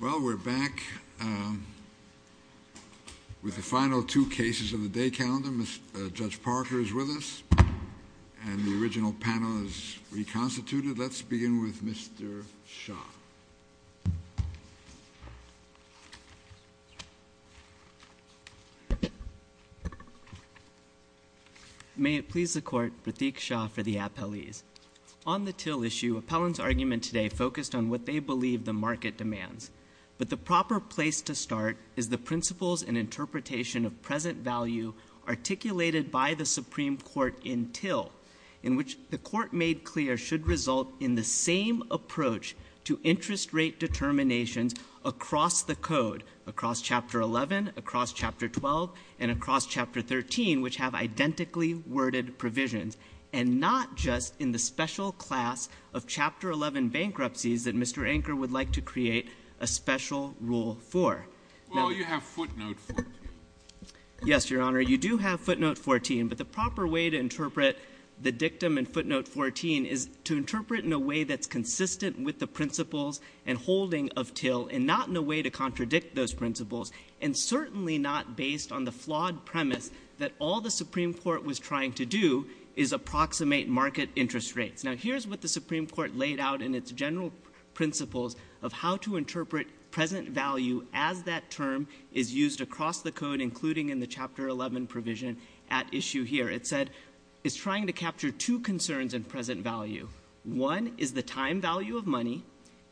Well, we're back with the final two cases of the day calendar. Judge Parker is with us, and the original panel is reconstituted. Let's begin with Mr. Shah. May it please the Court, Pratik Shah for the appellees. On the Till issue, appellants' argument today focused on what they believe the market demands. But the proper place to start is the principles and interpretation of present value articulated by the Supreme Court in Till, in which the Court made clear should result in the same approach to interest rate determinations across the Code, across Chapter 11, across Chapter 12, and across Chapter 13, which have identically worded provisions, and not just in the special class of Chapter 11 bankruptcies that Mr. Anker would like to create a special rule for. Well, you have footnote 14. Yes, Your Honor. You do have footnote 14. But the proper way to interpret the dictum in footnote 14 is to interpret in a way that's consistent with the principles and holding of Till, and not in a way to contradict those principles, and certainly not based on the flawed premise that all the Supreme Court was trying to do is approximate market interest rates. Now, here's what the Supreme Court laid out in its general principles of how to interpret present value as that term is used across the Code, including in the Chapter 11 provision at issue here. It said it's trying to capture two concerns in present value. One is the time value of money,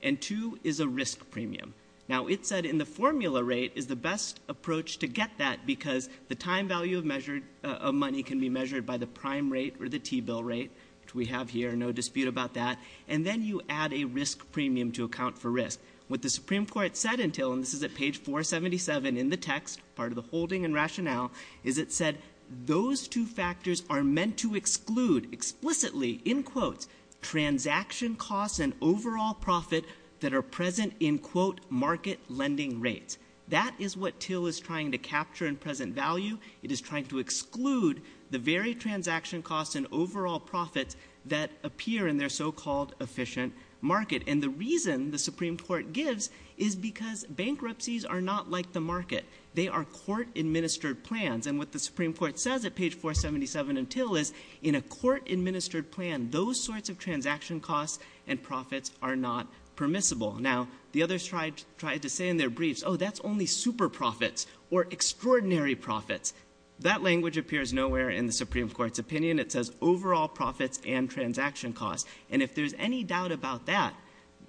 and two is a risk premium. Now, it said in the formula rate is the best approach to get that because the time value of money can be measured by the prime rate or the T-bill rate, which we have here, no dispute about that. And then you add a risk premium to account for risk. What the Supreme Court said in Till, and this is at page 477 in the text, part of the holding and rationale, is it said those two factors are meant to exclude explicitly, in quotes, transaction costs and overall profit that are present in, quote, market lending rates. That is what Till is trying to capture in present value. It is trying to exclude the very transaction costs and overall profits that appear in their so-called efficient market. And the reason the Supreme Court gives is because bankruptcies are not like the market. They are court-administered plans. And what the Supreme Court says at page 477 in Till is in a court-administered plan, those sorts of transaction costs and profits are not permissible. Now, the others tried to say in their briefs, oh, that's only super profits or extraordinary profits. That language appears nowhere in the Supreme Court's opinion. It says overall profits and transaction costs. And if there's any doubt about that,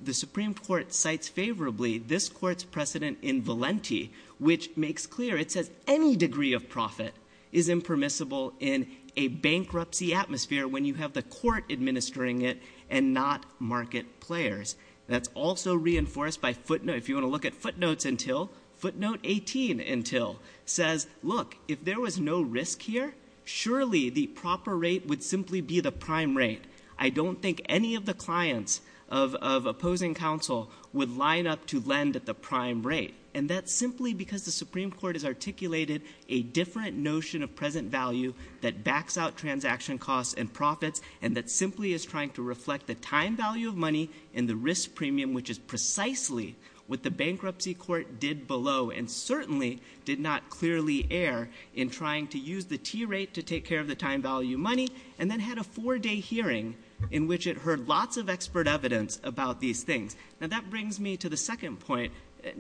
the Supreme Court cites favorably this court's precedent in Valenti, which makes clear it says any degree of profit is impermissible in a bankruptcy atmosphere when you have the court administering it and not market players. That's also reinforced by footnotes. If you want to look at footnotes in Till, footnote 18 in Till says, look, if there was no risk here, surely the proper rate would simply be the prime rate. I don't think any of the clients of opposing counsel would line up to lend at the prime rate. And that's simply because the Supreme Court has articulated a different notion of present value that backs out transaction costs and profits and that simply is trying to reflect the time value of money and the risk premium, which is precisely what the bankruptcy court did below and certainly did not clearly err in trying to use the T rate to take care of the time value money and then had a four-day hearing in which it heard lots of expert evidence about these things. Now, that brings me to the second point.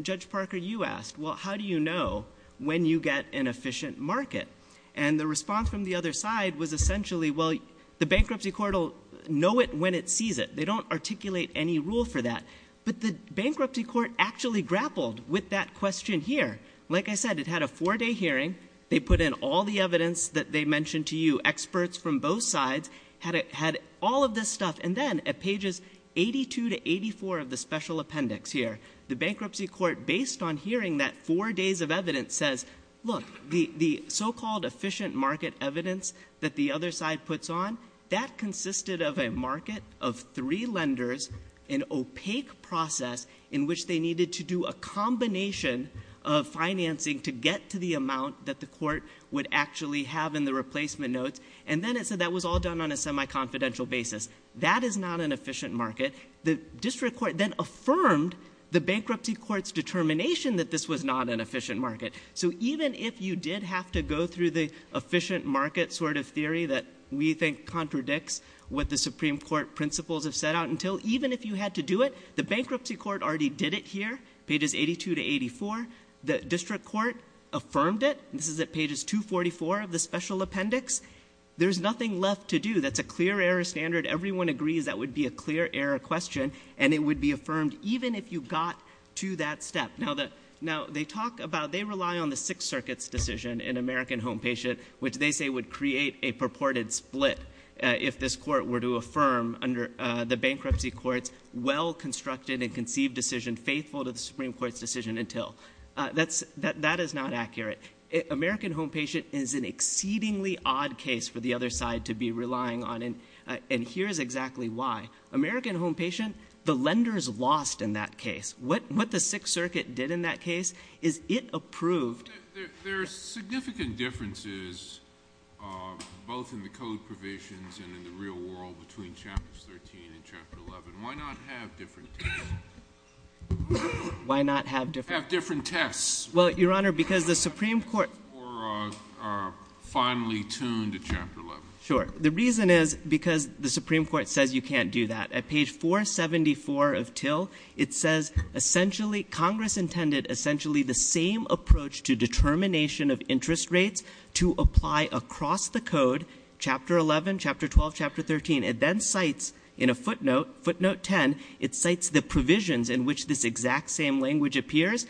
Judge Parker, you asked, well, how do you know when you get an efficient market? And the response from the other side was essentially, well, the bankruptcy court will know it when it sees it. They don't articulate any rule for that. But the bankruptcy court actually grappled with that question here. Like I said, it had a four-day hearing. They put in all the evidence that they mentioned to you, experts from both sides had all of this stuff. And then at pages 82 to 84 of the special appendix here, the bankruptcy court, based on hearing that four days of evidence, says, look, the so-called efficient market evidence that the other side puts on, that consisted of a market of three lenders, an opaque process in which they needed to do a combination of financing to get to the amount that the court would actually have in the replacement notes. And then it said that was all done on a semi-confidential basis. That is not an efficient market. The district court then affirmed the bankruptcy court's determination that this was not an efficient market. So even if you did have to go through the efficient market sort of theory that we think contradicts what the Supreme Court principles have set out, even if you had to do it, the bankruptcy court already did it here, pages 82 to 84. The district court affirmed it. This is at pages 244 of the special appendix. There's nothing left to do. That's a clear error standard. Everyone agrees that would be a clear error question, and it would be affirmed even if you got to that step. Now, they talk about they rely on the Sixth Circuit's decision in American Home Patient, which they say would create a purported split if this court were to affirm under the bankruptcy court's well-constructed and conceived decision faithful to the Supreme Court's decision until. That is not accurate. American Home Patient is an exceedingly odd case for the other side to be relying on, and here is exactly why. American Home Patient, the lenders lost in that case. What the Sixth Circuit did in that case is it approved. There are significant differences both in the code provisions and in the real world between Chapters 13 and Chapter 11. Why not have different cases? Why not have different tests? Well, Your Honor, because the Supreme Court – Or finally tuned to Chapter 11. Sure. The reason is because the Supreme Court says you can't do that. At page 474 of Till, it says essentially Congress intended essentially the same approach to determination of interest rates to apply across the code, Chapter 11, Chapter 12, Chapter 13. It then cites in a footnote, footnote 10, it cites the provisions in which this exact same language appears.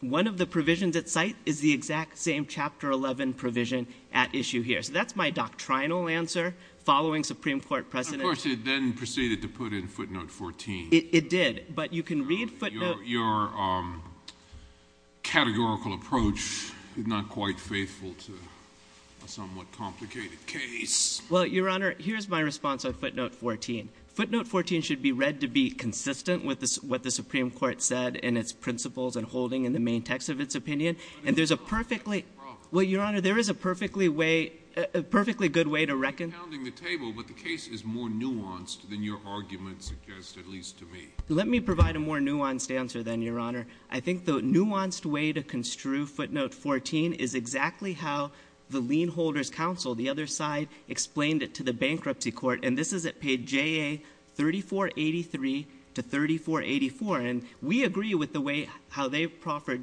One of the provisions at site is the exact same Chapter 11 provision at issue here. So that's my doctrinal answer following Supreme Court precedent. Of course, it then proceeded to put in footnote 14. It did, but you can read footnote – Your categorical approach is not quite faithful to a somewhat complicated case. Well, Your Honor, here's my response on footnote 14. Footnote 14 should be read to be consistent with what the Supreme Court said in its principles and holding in the main text of its opinion. And there's a perfectly – Well, Your Honor, there is a perfectly way – a perfectly good way to reckon – You're pounding the table, but the case is more nuanced than your argument suggests, at least to me. Let me provide a more nuanced answer then, Your Honor. I think the nuanced way to construe footnote 14 is exactly how the lien holder's counsel, the other side, explained it to the bankruptcy court. And this is at page JA-3483 to 3484. And we agree with the way how they proffered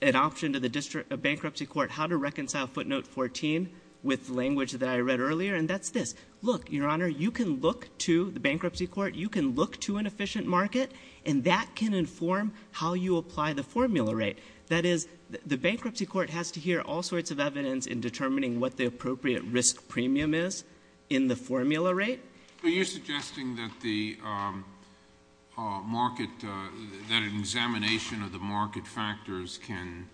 an option to the District of Bankruptcy Court how to reconcile footnote 14 with language that I read earlier. And that's this. Look, Your Honor, you can look to the bankruptcy court. You can look to an efficient market, and that can inform how you apply the formula rate. That is, the bankruptcy court has to hear all sorts of evidence in determining what the appropriate risk premium is in the formula rate. Are you suggesting that the market – that an examination of the market factors can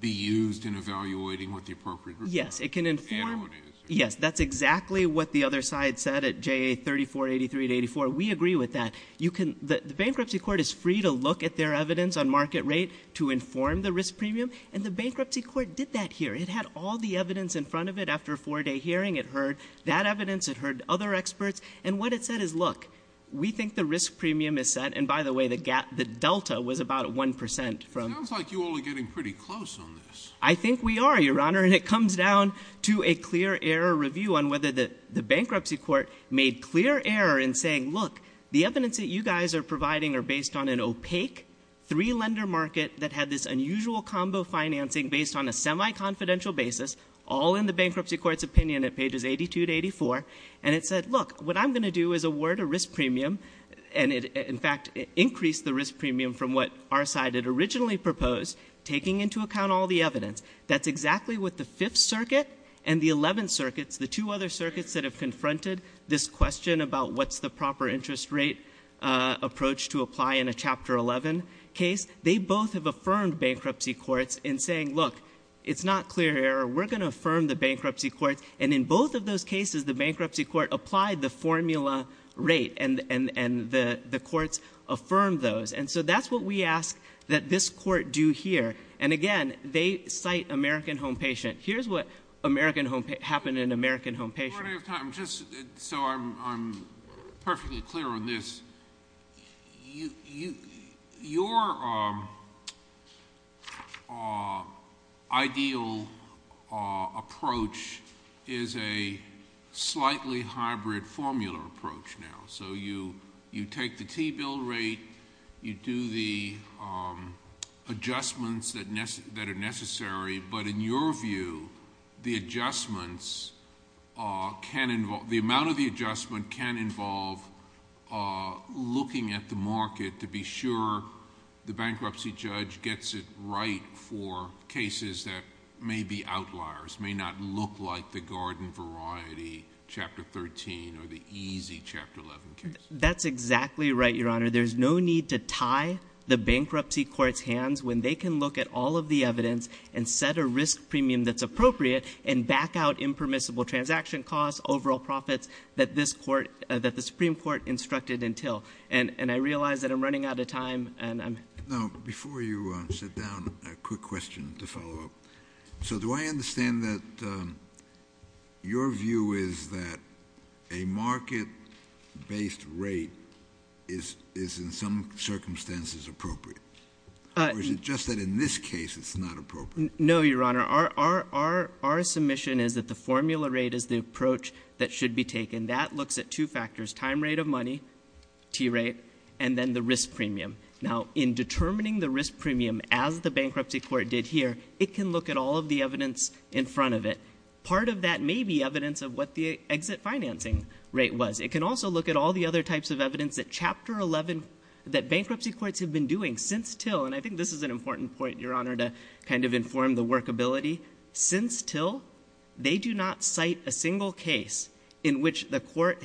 be used in evaluating what the appropriate risk premium is? Yes. It can inform – I don't want to answer. Yes, that's exactly what the other side said at JA-3483 to 84. We agree with that. You can – the bankruptcy court is free to look at their evidence on market rate to inform the risk premium. And the bankruptcy court did that here. It had all the evidence in front of it after a four-day hearing. It heard that evidence. It heard other experts. And what it said is, look, we think the risk premium is set – and by the way, the delta was about 1% from – It sounds like you all are getting pretty close on this. I think we are, Your Honor. And it comes down to a clear error review on whether the bankruptcy court made clear error in saying, look, the evidence that you guys are providing are based on an opaque three-lender market that had this unusual combo financing based on a semi-confidential basis, all in the bankruptcy court's opinion at pages 82 to 84. And it said, look, what I'm going to do is award a risk premium. And it, in fact, increased the risk premium from what our side had originally proposed, taking into account all the evidence. That's exactly what the Fifth Circuit and the Eleventh Circuit, the two other circuits that have confronted this question about what's the proper interest rate approach to apply in a Chapter 11 case, they both have affirmed bankruptcy courts in saying, look, it's not clear error. We're going to affirm the bankruptcy courts. And in both of those cases, the bankruptcy court applied the formula rate, and the courts affirmed those. And so that's what we ask that this court do here. And again, they cite American home patient. Here's what happened in American home patient. Just so I'm perfectly clear on this, your ideal approach is a slightly hybrid formula approach now. So you take the T-bill rate, you do the adjustments that are necessary, but in your view, the adjustments can involve, the amount of the adjustment can involve looking at the market to be sure the bankruptcy judge gets it right for cases that may be outliers, may not look like the garden variety Chapter 13 or the easy Chapter 11 case. That's exactly right, Your Honor. There's no need to tie the bankruptcy court's hands when they can look at all of the evidence and set a risk premium that's appropriate and back out impermissible transaction costs, overall profits that the Supreme Court instructed until. And I realize that I'm running out of time. Now, before you sit down, a quick question to follow up. So do I understand that your view is that a market-based rate is in some circumstances appropriate? Or is it just that in this case it's not appropriate? No, Your Honor. Our submission is that the formula rate is the approach that should be taken. That looks at two factors, time rate of money, T-rate, and then the risk premium. Now, in determining the risk premium as the bankruptcy court did here, it can look at all of the evidence in front of it. Part of that may be evidence of what the exit financing rate was. It can also look at all the other types of evidence that Chapter 11, that bankruptcy courts have been doing since till, and I think this is an important point, Your Honor, to kind of inform the workability. Since till, they do not cite a single case in which a court,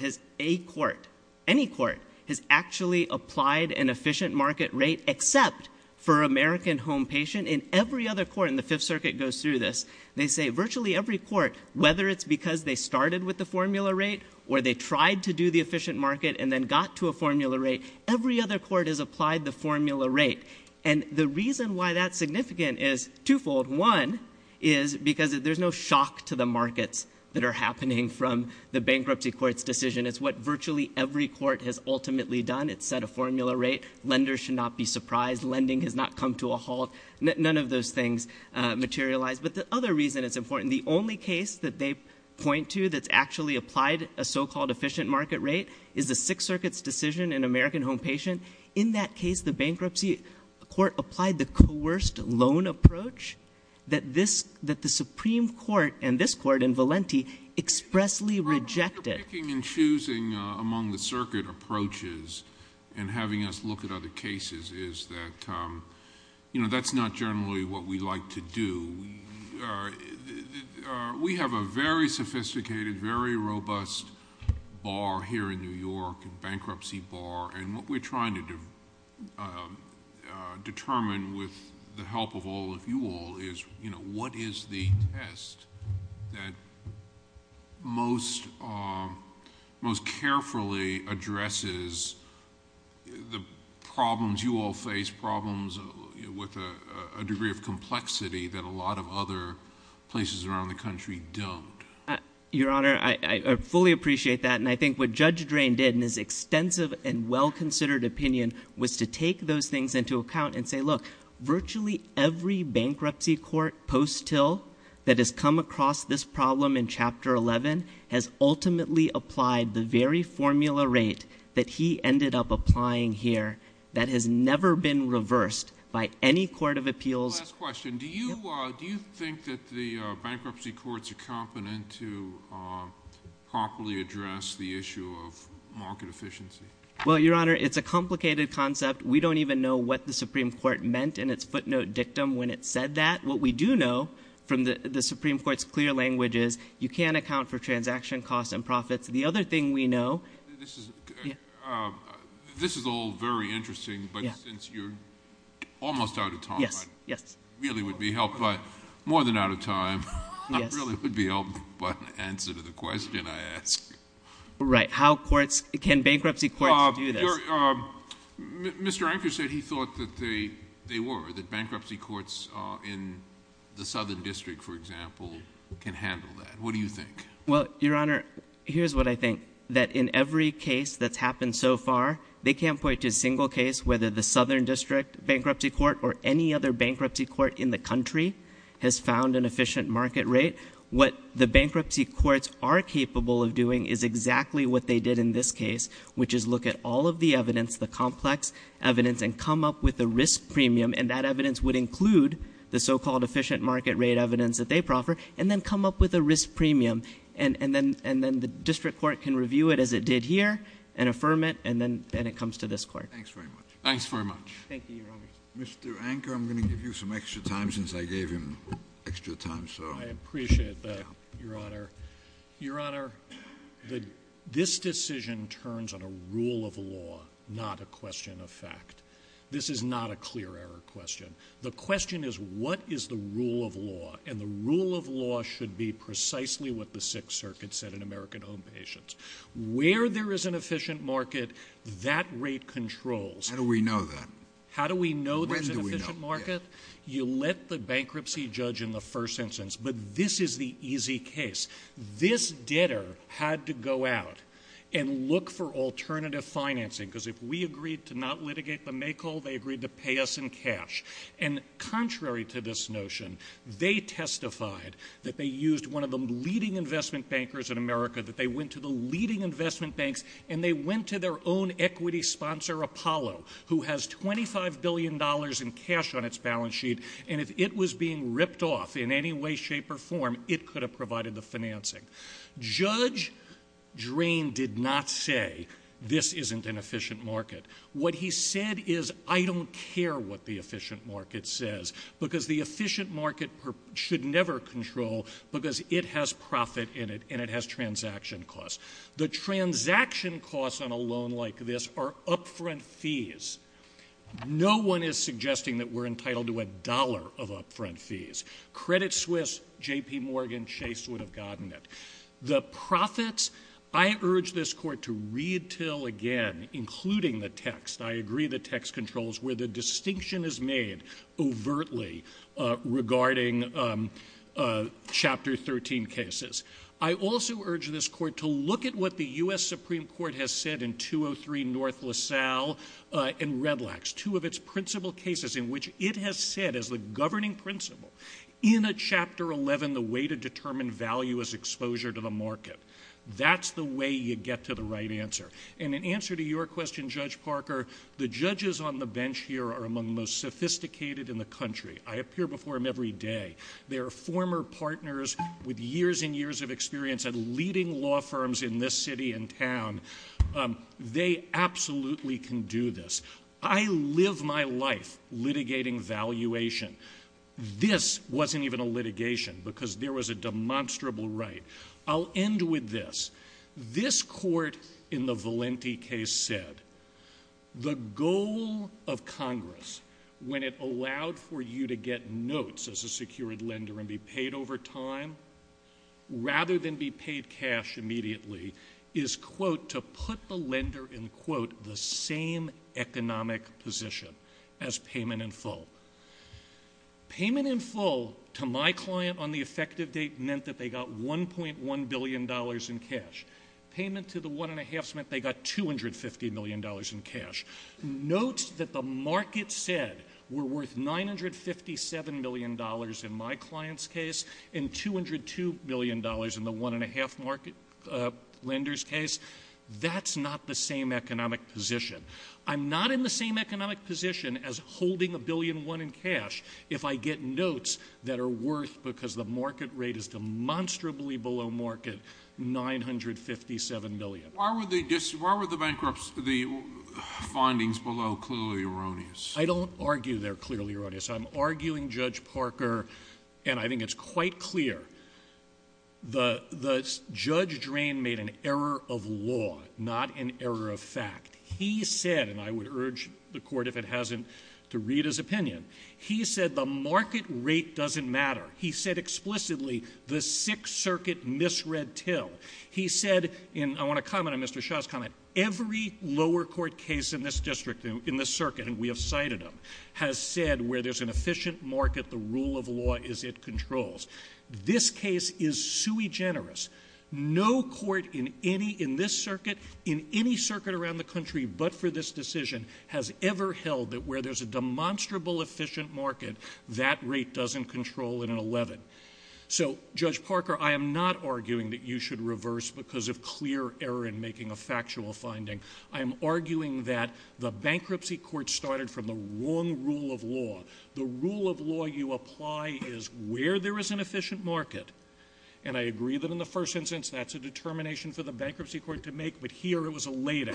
any court, has actually applied an efficient market rate except for American home patient. In every other court, and the Fifth Circuit goes through this, they say virtually every court, whether it's because they started with the formula rate or they tried to do the efficient market and then got to a formula rate, every other court has applied the formula rate. And the reason why that's significant is twofold. One is because there's no shock to the markets that are happening from the bankruptcy court's decision. It's what virtually every court has ultimately done. It's set a formula rate. Lenders should not be surprised. Lending has not come to a halt. None of those things materialize. But the other reason it's important, the only case that they point to that's actually applied a so-called efficient market rate is the Sixth Circuit's decision in American home patient. In that case, the bankruptcy court applied the coerced loan approach that the Supreme Court and this court in Valenti expressly rejected. The problem with picking and choosing among the circuit approaches and having us look at other cases is that that's not generally what we like to do. We have a very sophisticated, very robust bar here in New York, a bankruptcy bar. And what we're trying to determine with the help of all of you all is what is the test that most carefully addresses the problems you all face, problems with a degree of complexity that a lot of other places around the country don't. Your Honor, I fully appreciate that. And I think what Judge Drain did in his extensive and well-considered opinion was to take those things into account and say, look, virtually every bankruptcy court post till that has come across this problem in Chapter 11 has ultimately applied the very formula rate that he ended up applying here that has never been reversed by any court of appeals. One last question. Do you think that the bankruptcy courts are competent to properly address the issue of market efficiency? Well, Your Honor, it's a complicated concept. We don't even know what the Supreme Court meant in its footnote dictum when it said that. What we do know from the Supreme Court's clear language is you can't account for transaction costs and profits. The other thing we know – This is all very interesting, but since you're almost out of time. Yes, yes. It really would be helpful. More than out of time. It really would be helpful. But in answer to the question I asked. Right. How courts – can bankruptcy courts do this? Mr. Anker said he thought that they were, that bankruptcy courts in the Southern District, for example, can handle that. What do you think? Well, Your Honor, here's what I think. That in every case that's happened so far, they can't point to a single case, whether the Southern District Bankruptcy Court or any other bankruptcy court in the country has found an efficient market rate. What the bankruptcy courts are capable of doing is exactly what they did in this case, which is look at all of the evidence, the complex evidence, and come up with a risk premium, and that evidence would include the so-called efficient market rate evidence that they proffer, and then come up with a risk premium. And then the district court can review it as it did here and affirm it, and then it comes to this court. Thanks very much. Thanks very much. Thank you, Your Honor. Mr. Anker, I'm going to give you some extra time since I gave him extra time. I appreciate that, Your Honor. Your Honor, this decision turns on a rule of law, not a question of fact. This is not a clear error question. The question is, what is the rule of law? And the rule of law should be precisely what the Sixth Circuit said in American Home Patients. Where there is an efficient market, that rate controls. How do we know that? How do we know there's an efficient market? When do we know? You let the bankruptcy judge in the first instance. But this is the easy case. This debtor had to go out and look for alternative financing, because if we agreed to not litigate the May call, they agreed to pay us in cash. And contrary to this notion, they testified that they used one of the leading investment bankers in America, that they went to the leading investment banks, and they went to their own equity sponsor, Apollo, who has $25 billion in cash on its balance sheet, and if it was being ripped off in any way, shape, or form, it could have provided the financing. Judge Drain did not say, this isn't an efficient market. What he said is, I don't care what the efficient market says, because the efficient market should never control, because it has profit in it, and it has transaction costs. The transaction costs on a loan like this are upfront fees. No one is suggesting that we're entitled to a dollar of upfront fees. Credit Swiss, J.P. Morgan, Chase would have gotten it. The profits, I urge this court to read till again, including the text. I agree the text controls where the distinction is made overtly regarding Chapter 13 cases. I also urge this court to look at what the U.S. Supreme Court has said in 203 North LaSalle and Redlax, two of its principal cases in which it has said as the governing principle, in a Chapter 11, the way to determine value is exposure to the market. That's the way you get to the right answer. And in answer to your question, Judge Parker, the judges on the bench here are among the most sophisticated in the country. I appear before them every day. They are former partners with years and years of experience at leading law firms in this city and town. They absolutely can do this. I live my life litigating valuation. This wasn't even a litigation because there was a demonstrable right. I'll end with this. This court in the Valenti case said the goal of Congress, when it allowed for you to get notes as a secured lender and be paid over time, rather than be paid cash immediately, is, quote, to put the lender in, quote, the same economic position as payment in full. Payment in full to my client on the effective date meant that they got $1.1 billion in cash. Payment to the one-and-a-halves meant they got $250 million in cash. Notes that the market said were worth $957 million in my client's case and $202 million in the one-and-a-half market lender's case, that's not the same economic position. I'm not in the same economic position as holding $1.1 billion in cash if I get notes that are worth, because the market rate is demonstrably below market, $957 million. Why were the findings below clearly erroneous? I don't argue they're clearly erroneous. I'm arguing, Judge Parker, and I think it's quite clear, that Judge Drain made an error of law, not an error of fact. He said, and I would urge the Court, if it hasn't, to read his opinion. He said the market rate doesn't matter. He said explicitly the Sixth Circuit misread Till. He said, and I want to comment on Mr. Shaw's comment, every lower court case in this district, in this circuit, and we have cited them, has said where there's an efficient market, the rule of law is it controls. This case is sui generis. No court in any, in this circuit, in any circuit around the country, but for this decision, has ever held that where there's a demonstrable efficient market, that rate doesn't control an 11. So, Judge Parker, I am not arguing that you should reverse because of clear error in making a factual finding. I'm arguing that the bankruptcy court started from the wrong rule of law. The rule of law you apply is where there is an efficient market, and I agree that in the first instance that's a determination for the bankruptcy court to make, but here it was a later.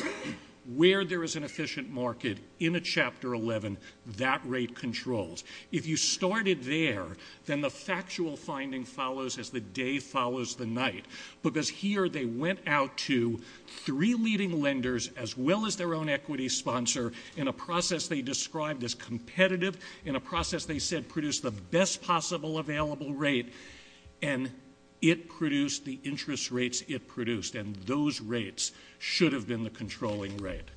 Where there is an efficient market in a Chapter 11, that rate controls. If you started there, then the factual finding follows as the day follows the night, because here they went out to three leading lenders, as well as their own equity sponsor, in a process they described as competitive, in a process they said produced the best possible available rate, and it produced the interest rates it produced, and those rates should have been the controlling rate.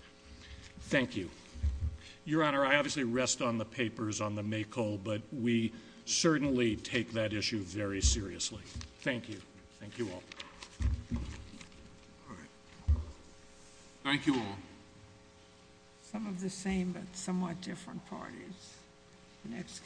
Thank you. Your Honor, I obviously rest on the papers on the MAKO, but we certainly take that issue very seriously. Thank you. Thank you all. Thank you all. Some of the same, but somewhat different parties. Next case.